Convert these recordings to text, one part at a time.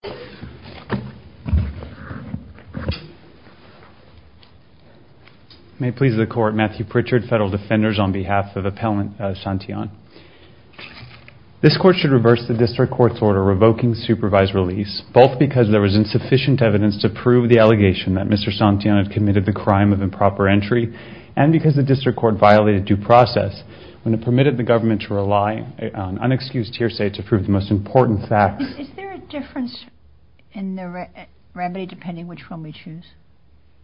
This Court should reverse the District Court's order revoking supervised release, both because there was insufficient evidence to prove the allegation that Mr. Santillan had committed the crime of improper entry, and because the District Court violated due process when it permitted the government to rely on unexcused hearsay to prove the most important facts Is there a difference in the remedy, depending which one we choose?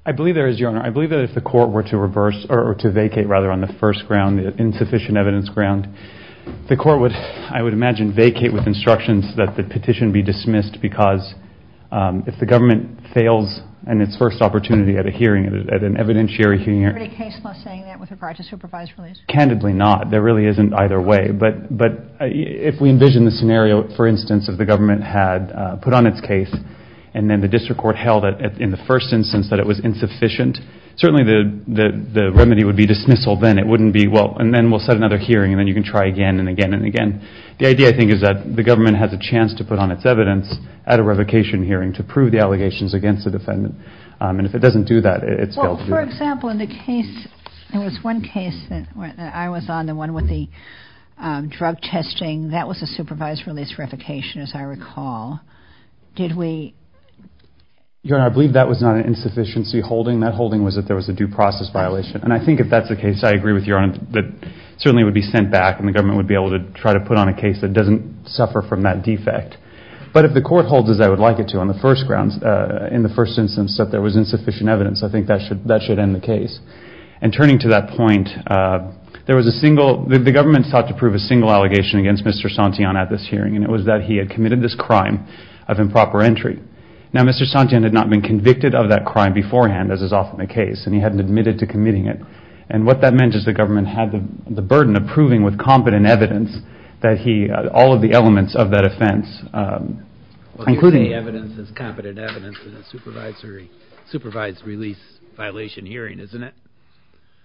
I believe there is, Your Honor. I believe that if the Court were to vacate on the insufficient evidence ground, the Court would, I would imagine, vacate with instructions that the petition be dismissed, because if the government fails in its first opportunity at an evidentiary hearing Is there a case law saying that with regard to supervised release? Candidly not. There really isn't either way. But if we envision the scenario, for instance, if the government had put on its case, and then the District Court held it in the first instance that it was insufficient, certainly the remedy would be dismissal then. It wouldn't be, well, and then we'll set another hearing and then you can try again and again and again. The idea, I think, is that the government has a chance to put on its evidence at a revocation hearing to prove the allegations against the defendant. And if it doesn't do that, it's failed to do that. There was one case that I was on, the one with the drug testing. That was a supervised release revocation, as I recall. Did we? Your Honor, I believe that was not an insufficiency holding. That holding was that there was a due process violation. And I think if that's the case, I agree with Your Honor, that certainly it would be sent back and the government would be able to try to put on a case that doesn't suffer from that defect. But if the Court holds as I would like it to on the first grounds, in the first instance, that there was insufficient evidence, I think that should end the case. And turning to that point, there was a single, the government sought to prove a single allegation against Mr. Santillan at this hearing, and it was that he had committed this crime of improper entry. Now, Mr. Santillan had not been convicted of that crime beforehand, as is often the case, and he hadn't admitted to committing it. And what that meant is the government had the burden of proving with competent evidence that he, all of the elements of that offense, including... Supervised release violation hearing, isn't it?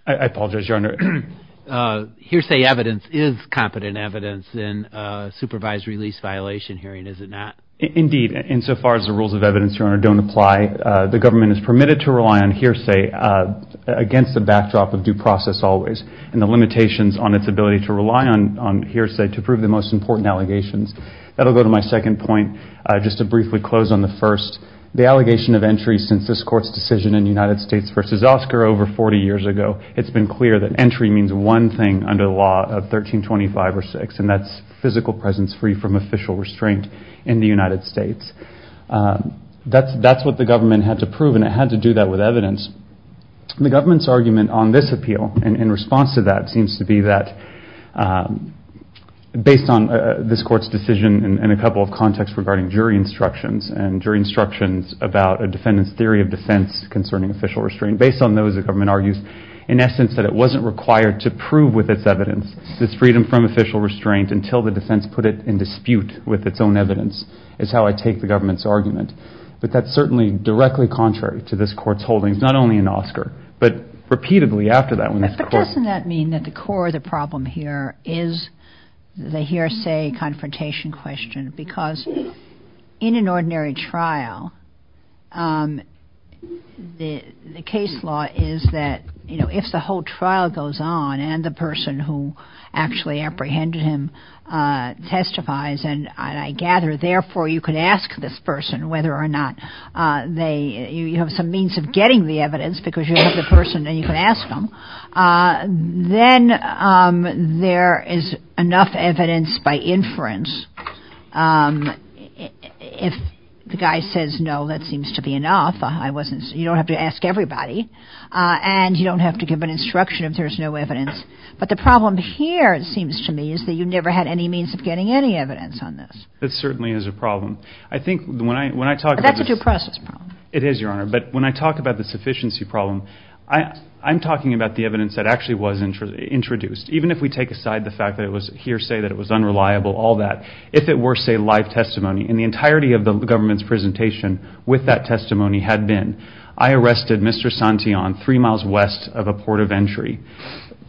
I apologize, Your Honor. Hearsay evidence is competent evidence in a supervised release violation hearing, is it not? Indeed. Insofar as the rules of evidence, Your Honor, don't apply, the government is permitted to rely on hearsay against the backdrop of due process always, and the limitations on its ability to rely on hearsay to prove the most important allegations. That'll go to my second point, just to briefly close on the first. The allegation of entry since this court's decision in United States v. Oscar over 40 years ago, it's been clear that entry means one thing under the law of 1325 or 6, and that's physical presence free from official restraint in the United States. That's what the government had to prove, and it had to do that with evidence. The government's argument on this appeal, in response to that, seems to be that, based on this court's decision in a couple of contexts regarding jury instructions, and jury instructions about a defendant's theory of defense concerning official restraint, based on those, the government argues, in essence, that it wasn't required to prove with its evidence its freedom from official restraint until the defense put it in dispute with its own evidence, is how I take the government's argument. But that's certainly directly contrary to this court's holdings, not only in Oscar, but repeatedly after that. But doesn't that mean that the core of the problem here is the hearsay confrontation question? Because in an ordinary trial, the case law is that, you know, if the whole trial goes on and the person who actually apprehended him testifies, and I gather, therefore, you could ask this person whether or not they, you have some means of getting the evidence because you have the person and you can ask them, then there is enough evidence by inference if the guy says, no, that seems to be enough, you don't have to ask everybody, and you don't have to give an instruction if there's no evidence. But the problem here, it seems to me, is that you never had any means of getting any evidence on this. That certainly is a problem. I think when I talk about this... That's a due process problem. It is, Your Honor. But when I talk about the sufficiency problem, I'm talking about the evidence that actually was introduced. Even if we take aside the fact that it was hearsay, that it was unreliable, all that, if it were, say, live testimony, and the entirety of the government's presentation with that testimony had been, I arrested Mr. Santillan three miles west of a port of entry,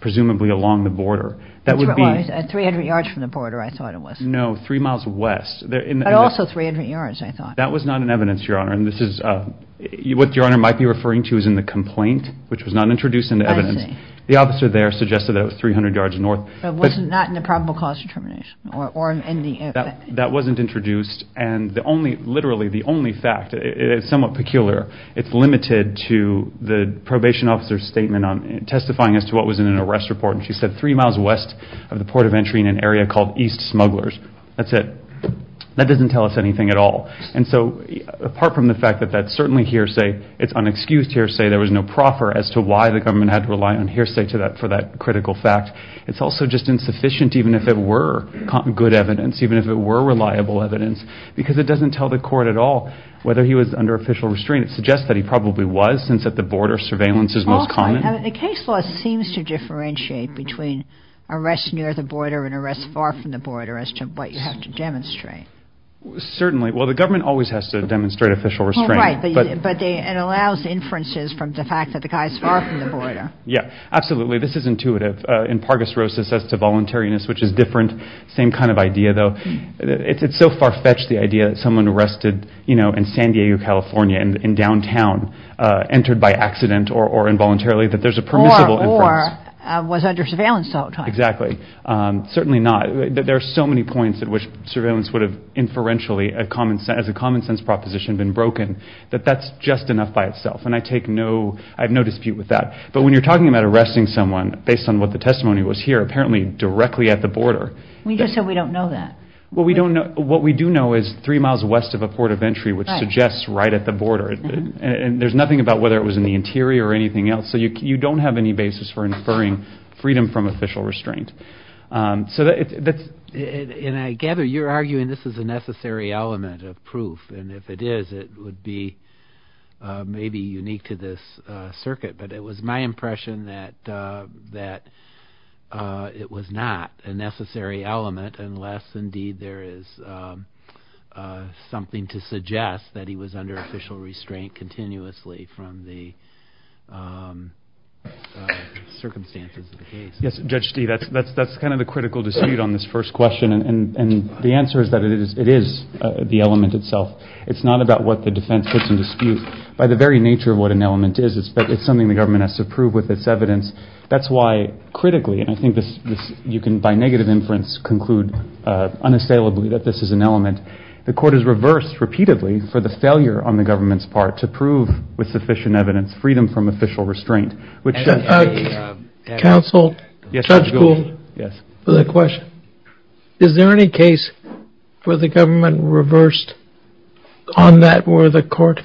presumably along the border, that would be... Three hundred yards from the border, I thought it was. No, three miles west. But also three hundred yards, I thought. That was not in evidence, Your Honor, and this is, what Your Honor might be referring to is in the complaint, which was not introduced in the evidence. The officer there suggested that it was three hundred yards north. But it was not in the probable cause determination or in the... That wasn't introduced, and the only, literally the only fact, it's somewhat peculiar, it's limited to the probation officer's statement on testifying as to what was in an arrest report, and she said three miles west of the port of entry in an area called East Smugglers. That's it. That doesn't tell us anything at all. And so apart from the fact that that's certainly hearsay, it's unexcused hearsay, there was no proffer as to why the government had to rely on hearsay for that critical fact, it's also just insufficient even if it were good evidence, even if it were reliable evidence, because it doesn't tell the court at all whether he was under official restraint. It suggests that he probably was, since at the border surveillance is most common. The case law seems to differentiate between arrests near the border and arrests far from the border as to what you have to demonstrate. Certainly. Well, the government always has to demonstrate official restraint. Right, but it allows inferences from the fact that the guy's far from the border. Yeah. Absolutely. This is intuitive. In Pargus Rosas, as to voluntariness, which is different, same kind of idea, though. It's so far-fetched, the idea that someone arrested, you know, in San Diego, California, in downtown, entered by accident or involuntarily, that there's a permissible inference. Or was under surveillance the whole time. Exactly. Certainly not. There are so many points at which surveillance would have inferentially, as a common-sense proposition, been broken, that that's just enough by itself, and I take no, I have no dispute with that. But when you're talking about arresting someone, based on what the testimony was here, apparently directly at the border. We just said we don't know that. Well, we don't know, what we do know is three miles west of a port of entry, which suggests right at the border. And there's nothing about whether it was in the interior or anything else, so you don't have any basis for inferring freedom from official restraint. So that's... And I gather you're arguing this is a necessary element of proof, and if it is, it would be maybe unique to this circuit, but it was my impression that it was not a necessary element unless indeed there is something to suggest that he was under official restraint continuously from the circumstances of the case. Yes, Judge Steeve, that's kind of the critical dispute on this first question, and the answer is that it is the element itself. It's not about what the defense puts in dispute. By the very nature of what an element is, it's something the government has to prove with its evidence. That's why critically, and I think you can by negative inference conclude unassailably that this is an element, the court has reversed repeatedly for the failure on the government's part to prove with sufficient evidence freedom from official restraint, which... Counsel, Judge Gould, for the question. Is there any case where the government reversed on that, where the court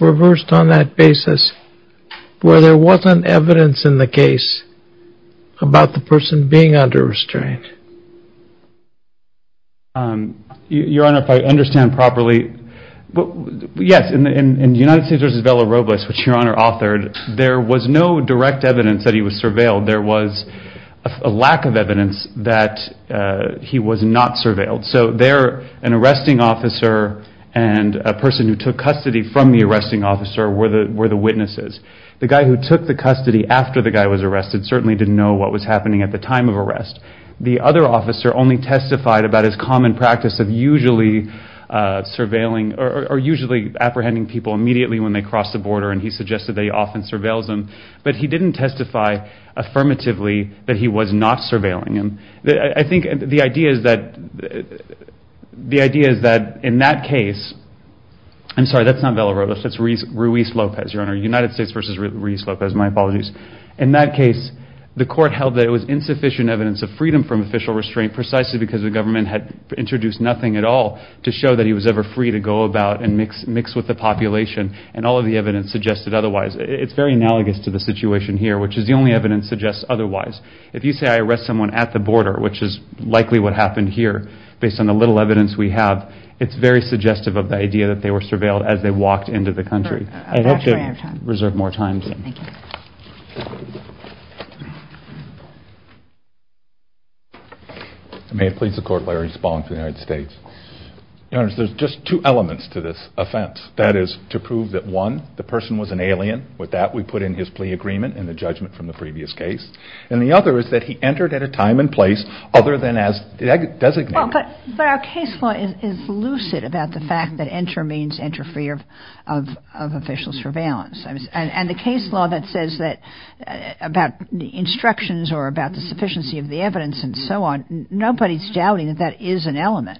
reversed on that basis where there wasn't evidence in the case about the person being under restraint? Your Honor, if I understand properly, yes, in United States v. Vela Robles, which Your Honor authored, there was no direct evidence that he was surveilled. There was a lack of evidence that he was not surveilled. So there, an arresting officer and a person who took custody from the arresting officer were the witnesses. The guy who took the custody after the guy was arrested certainly didn't know what was happening at the time of arrest. The other officer only testified about his common practice of usually surveilling or usually apprehending people immediately when they cross the border, and he suggested they often surveilled them. But he didn't testify affirmatively that he was not surveilling them. I think the idea is that in that case, I'm sorry, that's not Vela Robles, that's Ruiz Lopez, Your Honor, United States v. Ruiz Lopez, my apologies. In that case, the court held that it was insufficient evidence of freedom from official restraint precisely because the government had introduced nothing at all to show that he was ever free to go about and mix with the population, and all of the evidence suggested otherwise. It's very analogous to the situation here, which is the only evidence suggests otherwise. If you say I arrest someone at the border, which is likely what happened here, based on the little evidence we have, it's very suggestive of the idea that they were surveilled as they walked into the country. I'd like to reserve more time. May it please the Court, Larry Spong for the United States. Your Honors, there's just two elements to this offense. That is to prove that, one, the person was an alien. With that, we put in his plea agreement and the judgment from the previous case. And the other is that he entered at a time and place other than as designated. But our case law is lucid about the fact that enter means enter free of official surveillance. And the case law that says that about the instructions or about the sufficiency of the evidence and so on, nobody's doubting that that is an element.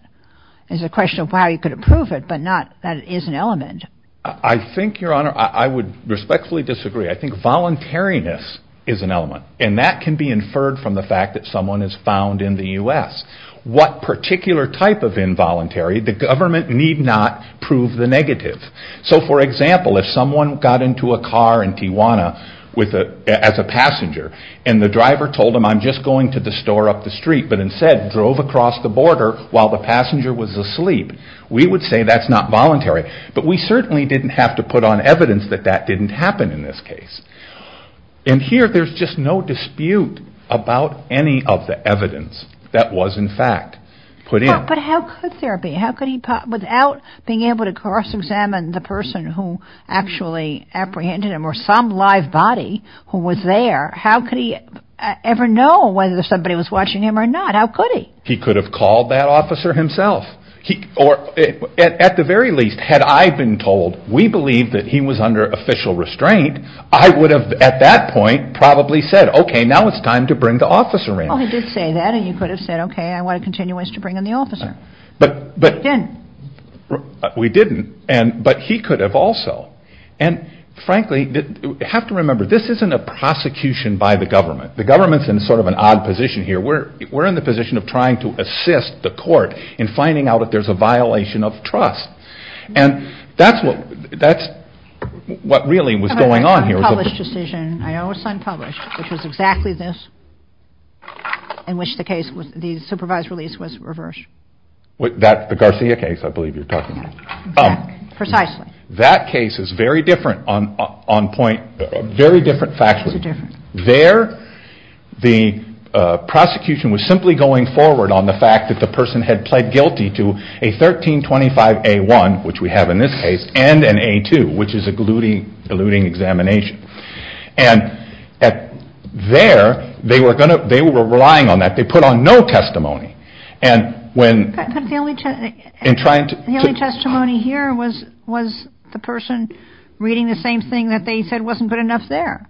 It's a question of how you could prove it, but not that it is an element. I think, Your Honor, I would respectfully disagree. I think voluntariness is an element. And that can be inferred from the fact that someone is found in the U.S. What particular type of involuntary, the government need not prove the negative. So for example, if someone got into a car in Tijuana as a passenger and the driver told him I'm just going to the store up the street, but instead drove across the border while the passenger was asleep, we would say that's not voluntary. But we certainly didn't have to put on evidence that that didn't happen in this case. And here there's just no dispute about any of the evidence that was in fact put in. But how could there be? How could he, without being able to cross-examine the person who actually apprehended him or some live body who was there, how could he ever know whether somebody was watching him or not? How could he? He could have called that officer himself. Or at the very least, had I been told we believe that he was under official restraint, I would have at that point probably said, okay, now it's time to bring the officer in. Well, he did say that and you could have said, okay, I want to continue us to bring in the officer. But we didn't. But he could have also. And frankly, you have to remember, this isn't a prosecution by the government. The government's in sort of an odd position here. We're in the position of trying to assist the court in finding out if there's a violation of trust. And that's what really was going on here. I know it was an unpublished decision. I know it was unpublished, which was exactly this, in which the case, the supervised release was reversed. The Garcia case, I believe you're talking about. Precisely. That case is very different on point, very different factually. There, the prosecution was simply going forward on the fact that the person had pled guilty to a 1325A1, which we have in this case, and an A2, which is an eluding examination. And there, they were relying on that. They put on no testimony. But the only testimony here was the person reading the same thing that they said wasn't good enough there.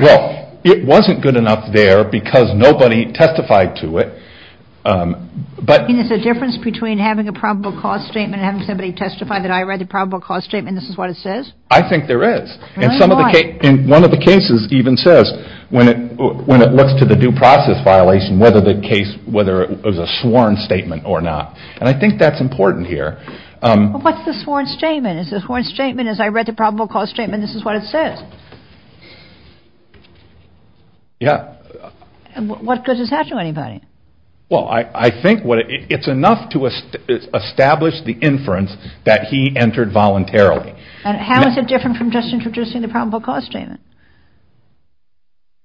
Well, it wasn't good enough there because nobody testified to it. I mean, is there a difference between having a probable cause statement and having somebody testify that I read the probable cause statement and this is what it says? I think there is. Really? Why? And one of the cases even says, when it looks to the due process violation, whether it was a sworn statement or not. And I think that's important here. Well, what's the sworn statement? Is the sworn statement, as I read the probable cause statement, this is what it says? Yeah. And what good does that do anybody? Well, I think it's enough to establish the inference that he entered voluntarily. And how is it different from just introducing the probable cause statement,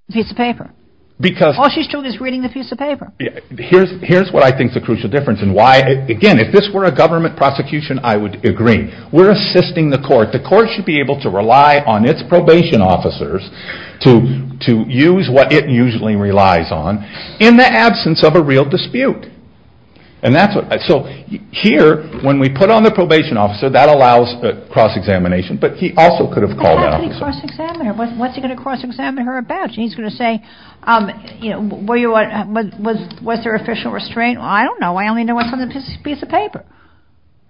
the piece of paper? Because... All she's doing is reading the piece of paper. Here's what I think is the crucial difference and why, again, if this were a government prosecution, I would agree. We're assisting the court. The court should be able to rely on its probation officers to use what it usually relies on in the absence of a real dispute. And that's what... So here, when we put on the probation officer, that allows a cross-examination, but he also could have called an officer. But how could he cross-examine her? What's he going to cross-examine her about? He's going to say, was there official restraint? I don't know. I only know what's on the piece of paper,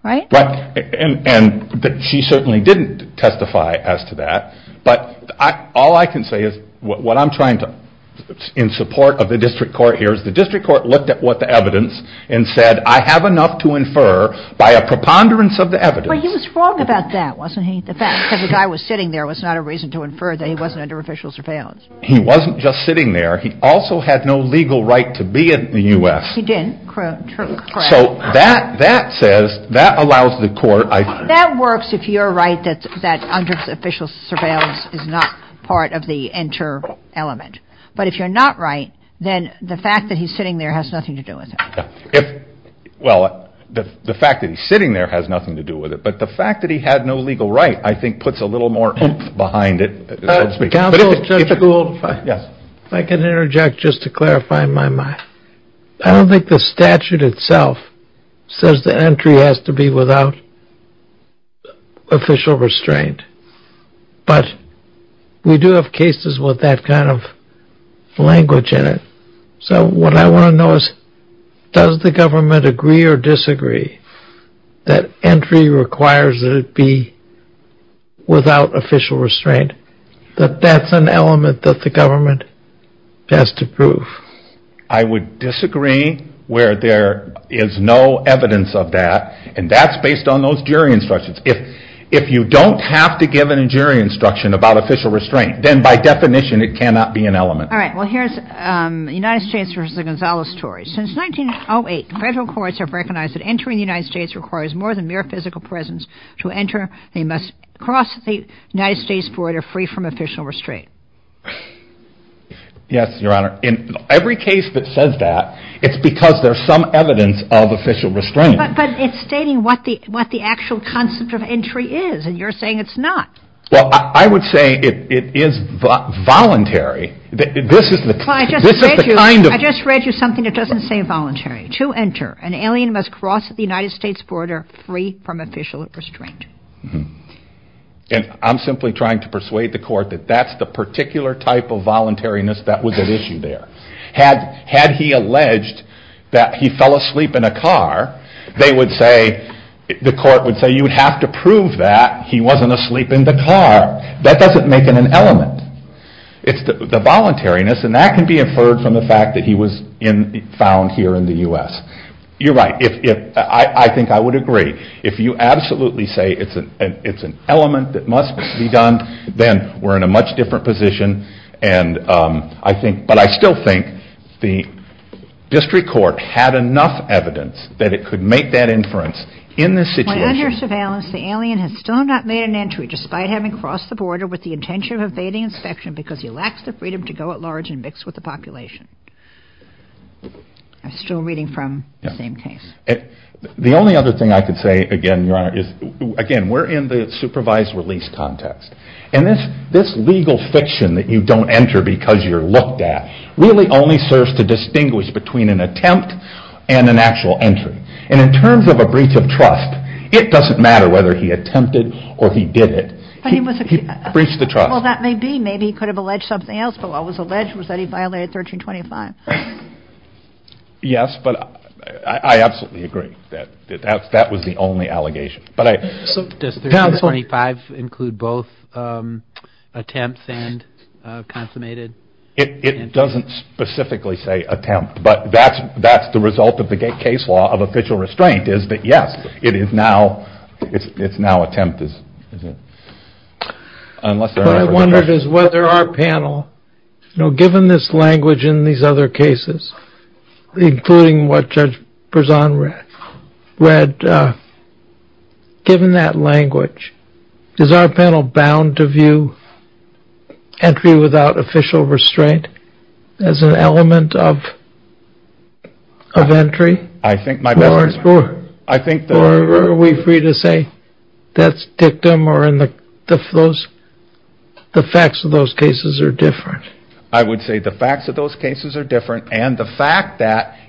right? And she certainly didn't testify as to that. But all I can say is, what I'm trying to, in support of the district court here, is the district court looked at what the evidence and said, I have enough to infer by a preponderance of the evidence. But he was wrong about that, wasn't he? The fact that the guy was sitting there was not a reason to infer that he wasn't under official surveillance. He wasn't just sitting there. He also had no legal right to be in the U.S. Yes, he did. Correct. Correct. So that says, that allows the court, I think. That works if you're right that under official surveillance is not part of the inter-element. But if you're not right, then the fact that he's sitting there has nothing to do with it. Yeah. If, well, the fact that he's sitting there has nothing to do with it. But the fact that he had no legal right, I think, puts a little more oomph behind it. Counsel, if I could interject, just to clarify my mind. I don't think the statute itself says the entry has to be without official restraint. But we do have cases with that kind of language in it. So what I want to know is, does the government agree or disagree that entry requires that it be without official restraint? That that's an element that the government has to prove. I would disagree where there is no evidence of that. And that's based on those jury instructions. If you don't have to give a jury instruction about official restraint, then by definition it cannot be an element. All right. Well, here's the United States versus the Gonzales story. Since 1908, federal courts have recognized that entering the United States requires more than mere physical presence to enter. They must cross the United States border free from official restraint. Yes, your honor. In every case that says that, it's because there's some evidence of official restraint. But it's stating what the actual concept of entry is, and you're saying it's not. Well, I would say it is voluntary. I just read you something that doesn't say voluntary. To enter, an alien must cross the United States border free from official restraint. And I'm simply trying to persuade the court that that's the particular type of voluntariness that was at issue there. Had he alleged that he fell asleep in a car, the court would say you would have to prove that he wasn't asleep in the car. That doesn't make it an element. It's the voluntariness, and that can be inferred from the fact that he was found here in the U.S. You're right. I think I would agree. If you absolutely say it's an element that must be done, then we're in a much different position. But I still think the district court had enough evidence that it could make that inference in this situation. Well, under surveillance, the alien has still not made an entry despite having crossed the border with the intention of evading inspection because he lacks the freedom to go at large and mix with the population. I'm still reading from the same case. The only other thing I could say, again, Your Honor, is, again, we're in the supervised release context. And this legal fiction that you don't enter because you're looked at really only serves to distinguish between an attempt and an actual entry. And in terms of a breach of trust, it doesn't matter whether he attempted or he did it. He breached the trust. Well, that may be. Maybe he could have alleged something else. But what was alleged was that he violated 1325. Yes, but I absolutely agree that that was the only allegation. Does 1325 include both attempts and consummated? It doesn't specifically say attempt. But that's the result of the case law of official restraint is that, yes, it is now attempt. What I wonder is whether our panel, given this language in these other cases, including what Judge Berzon read, given that language, is our panel bound to view entry without official restraint as an element of entry? I think my best. Or are we free to say that's dictum or the facts of those cases are different? I would say the facts of those cases are different. And the fact that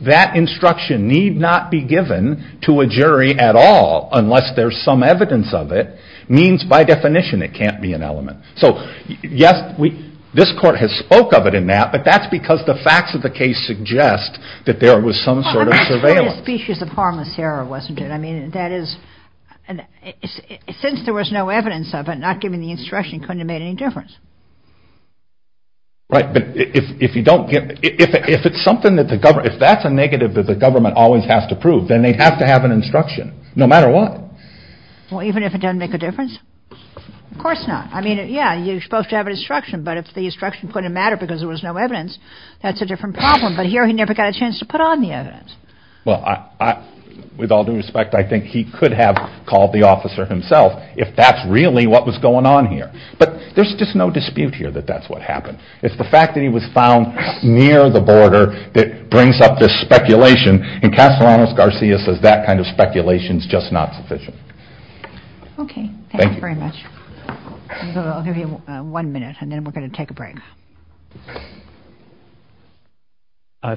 that instruction need not be given to a jury at all, unless there's some evidence of it, means by definition it can't be an element. So, yes, this court has spoke of it in that. But that's because the facts of the case suggest that there was some sort of surveillance. I mean, it's quite a species of harmless error, wasn't it? I mean, that is, since there was no evidence of it, not given the instruction, it couldn't have made any difference. Right. But if it's something that the government, if that's a negative that the government always has to prove, then they'd have to have an instruction, no matter what. Well, even if it doesn't make a difference? Of course not. I mean, yeah, you're supposed to have an instruction. But if the instruction couldn't matter because there was no evidence, that's a different problem. But here he never got a chance to put on the evidence. Well, with all due respect, I think he could have called the officer himself if that's really what was going on here. But there's just no dispute here that that's what happened. It's the fact that he was found near the border that brings up this speculation. And Castellanos-Garcia says that kind of speculation is just not sufficient. Okay. Thank you very much. Thank you. I'll give you one minute, and then we're going to take a break.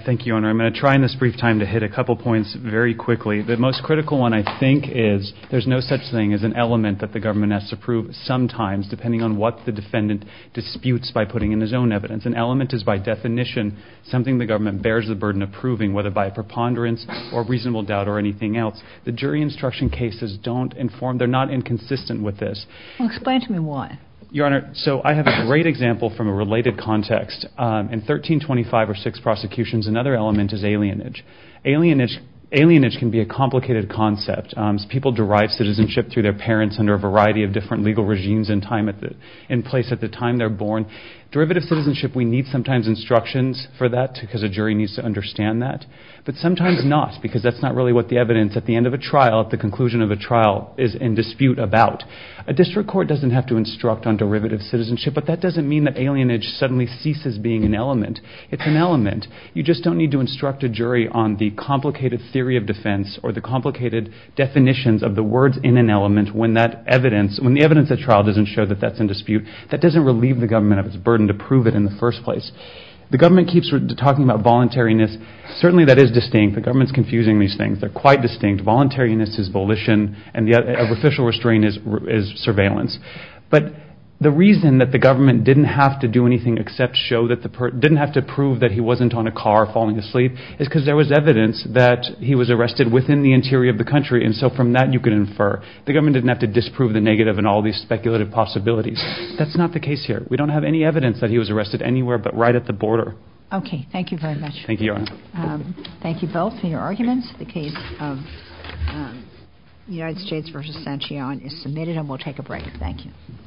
Thank you, Your Honor. I'm going to try in this brief time to hit a couple points very quickly. The most critical one, I think, is there's no such thing as an element that the government has to prove sometimes, depending on what the defendant disputes by putting in his own evidence. An element is, by definition, something the government bears the burden of proving, whether by a preponderance or reasonable doubt or anything else. The jury instruction cases don't inform – they're not inconsistent with this. Well, explain to me why. Your Honor, so I have a great example from a related context. In 1325 or six prosecutions, another element is alienage. Alienage can be a complicated concept. People derive citizenship through their parents under a variety of different legal regimes in place at the time they're born. Derivative citizenship, we need sometimes instructions for that because a jury needs to understand that, but sometimes not because that's not really what the evidence at the end of a trial, at the conclusion of a trial, is in dispute about. A district court doesn't have to instruct on derivative citizenship, but that doesn't mean that alienage suddenly ceases being an element. It's an element. You just don't need to instruct a jury on the complicated theory of defense or the complicated definitions of the words in an element when that evidence – when the evidence at trial doesn't show that that's in dispute, that doesn't relieve the government of its burden to prove it in the first place. The government keeps talking about voluntariness. Certainly, that is distinct. The government's confusing these things. They're quite distinct. Voluntariness is volition, and the official restraint is surveillance. But the reason that the government didn't have to do anything except show that the – didn't have to prove that he wasn't on a car falling asleep is because there was he was arrested within the interior of the country, and so from that you can infer. The government didn't have to disprove the negative and all these speculative possibilities. That's not the case here. We don't have any evidence that he was arrested anywhere but right at the border. Okay. Thank you very much. Thank you, Your Honor. Thank you both for your arguments. The case of United States v. Sanchion is submitted, and we'll take a break. Thank you.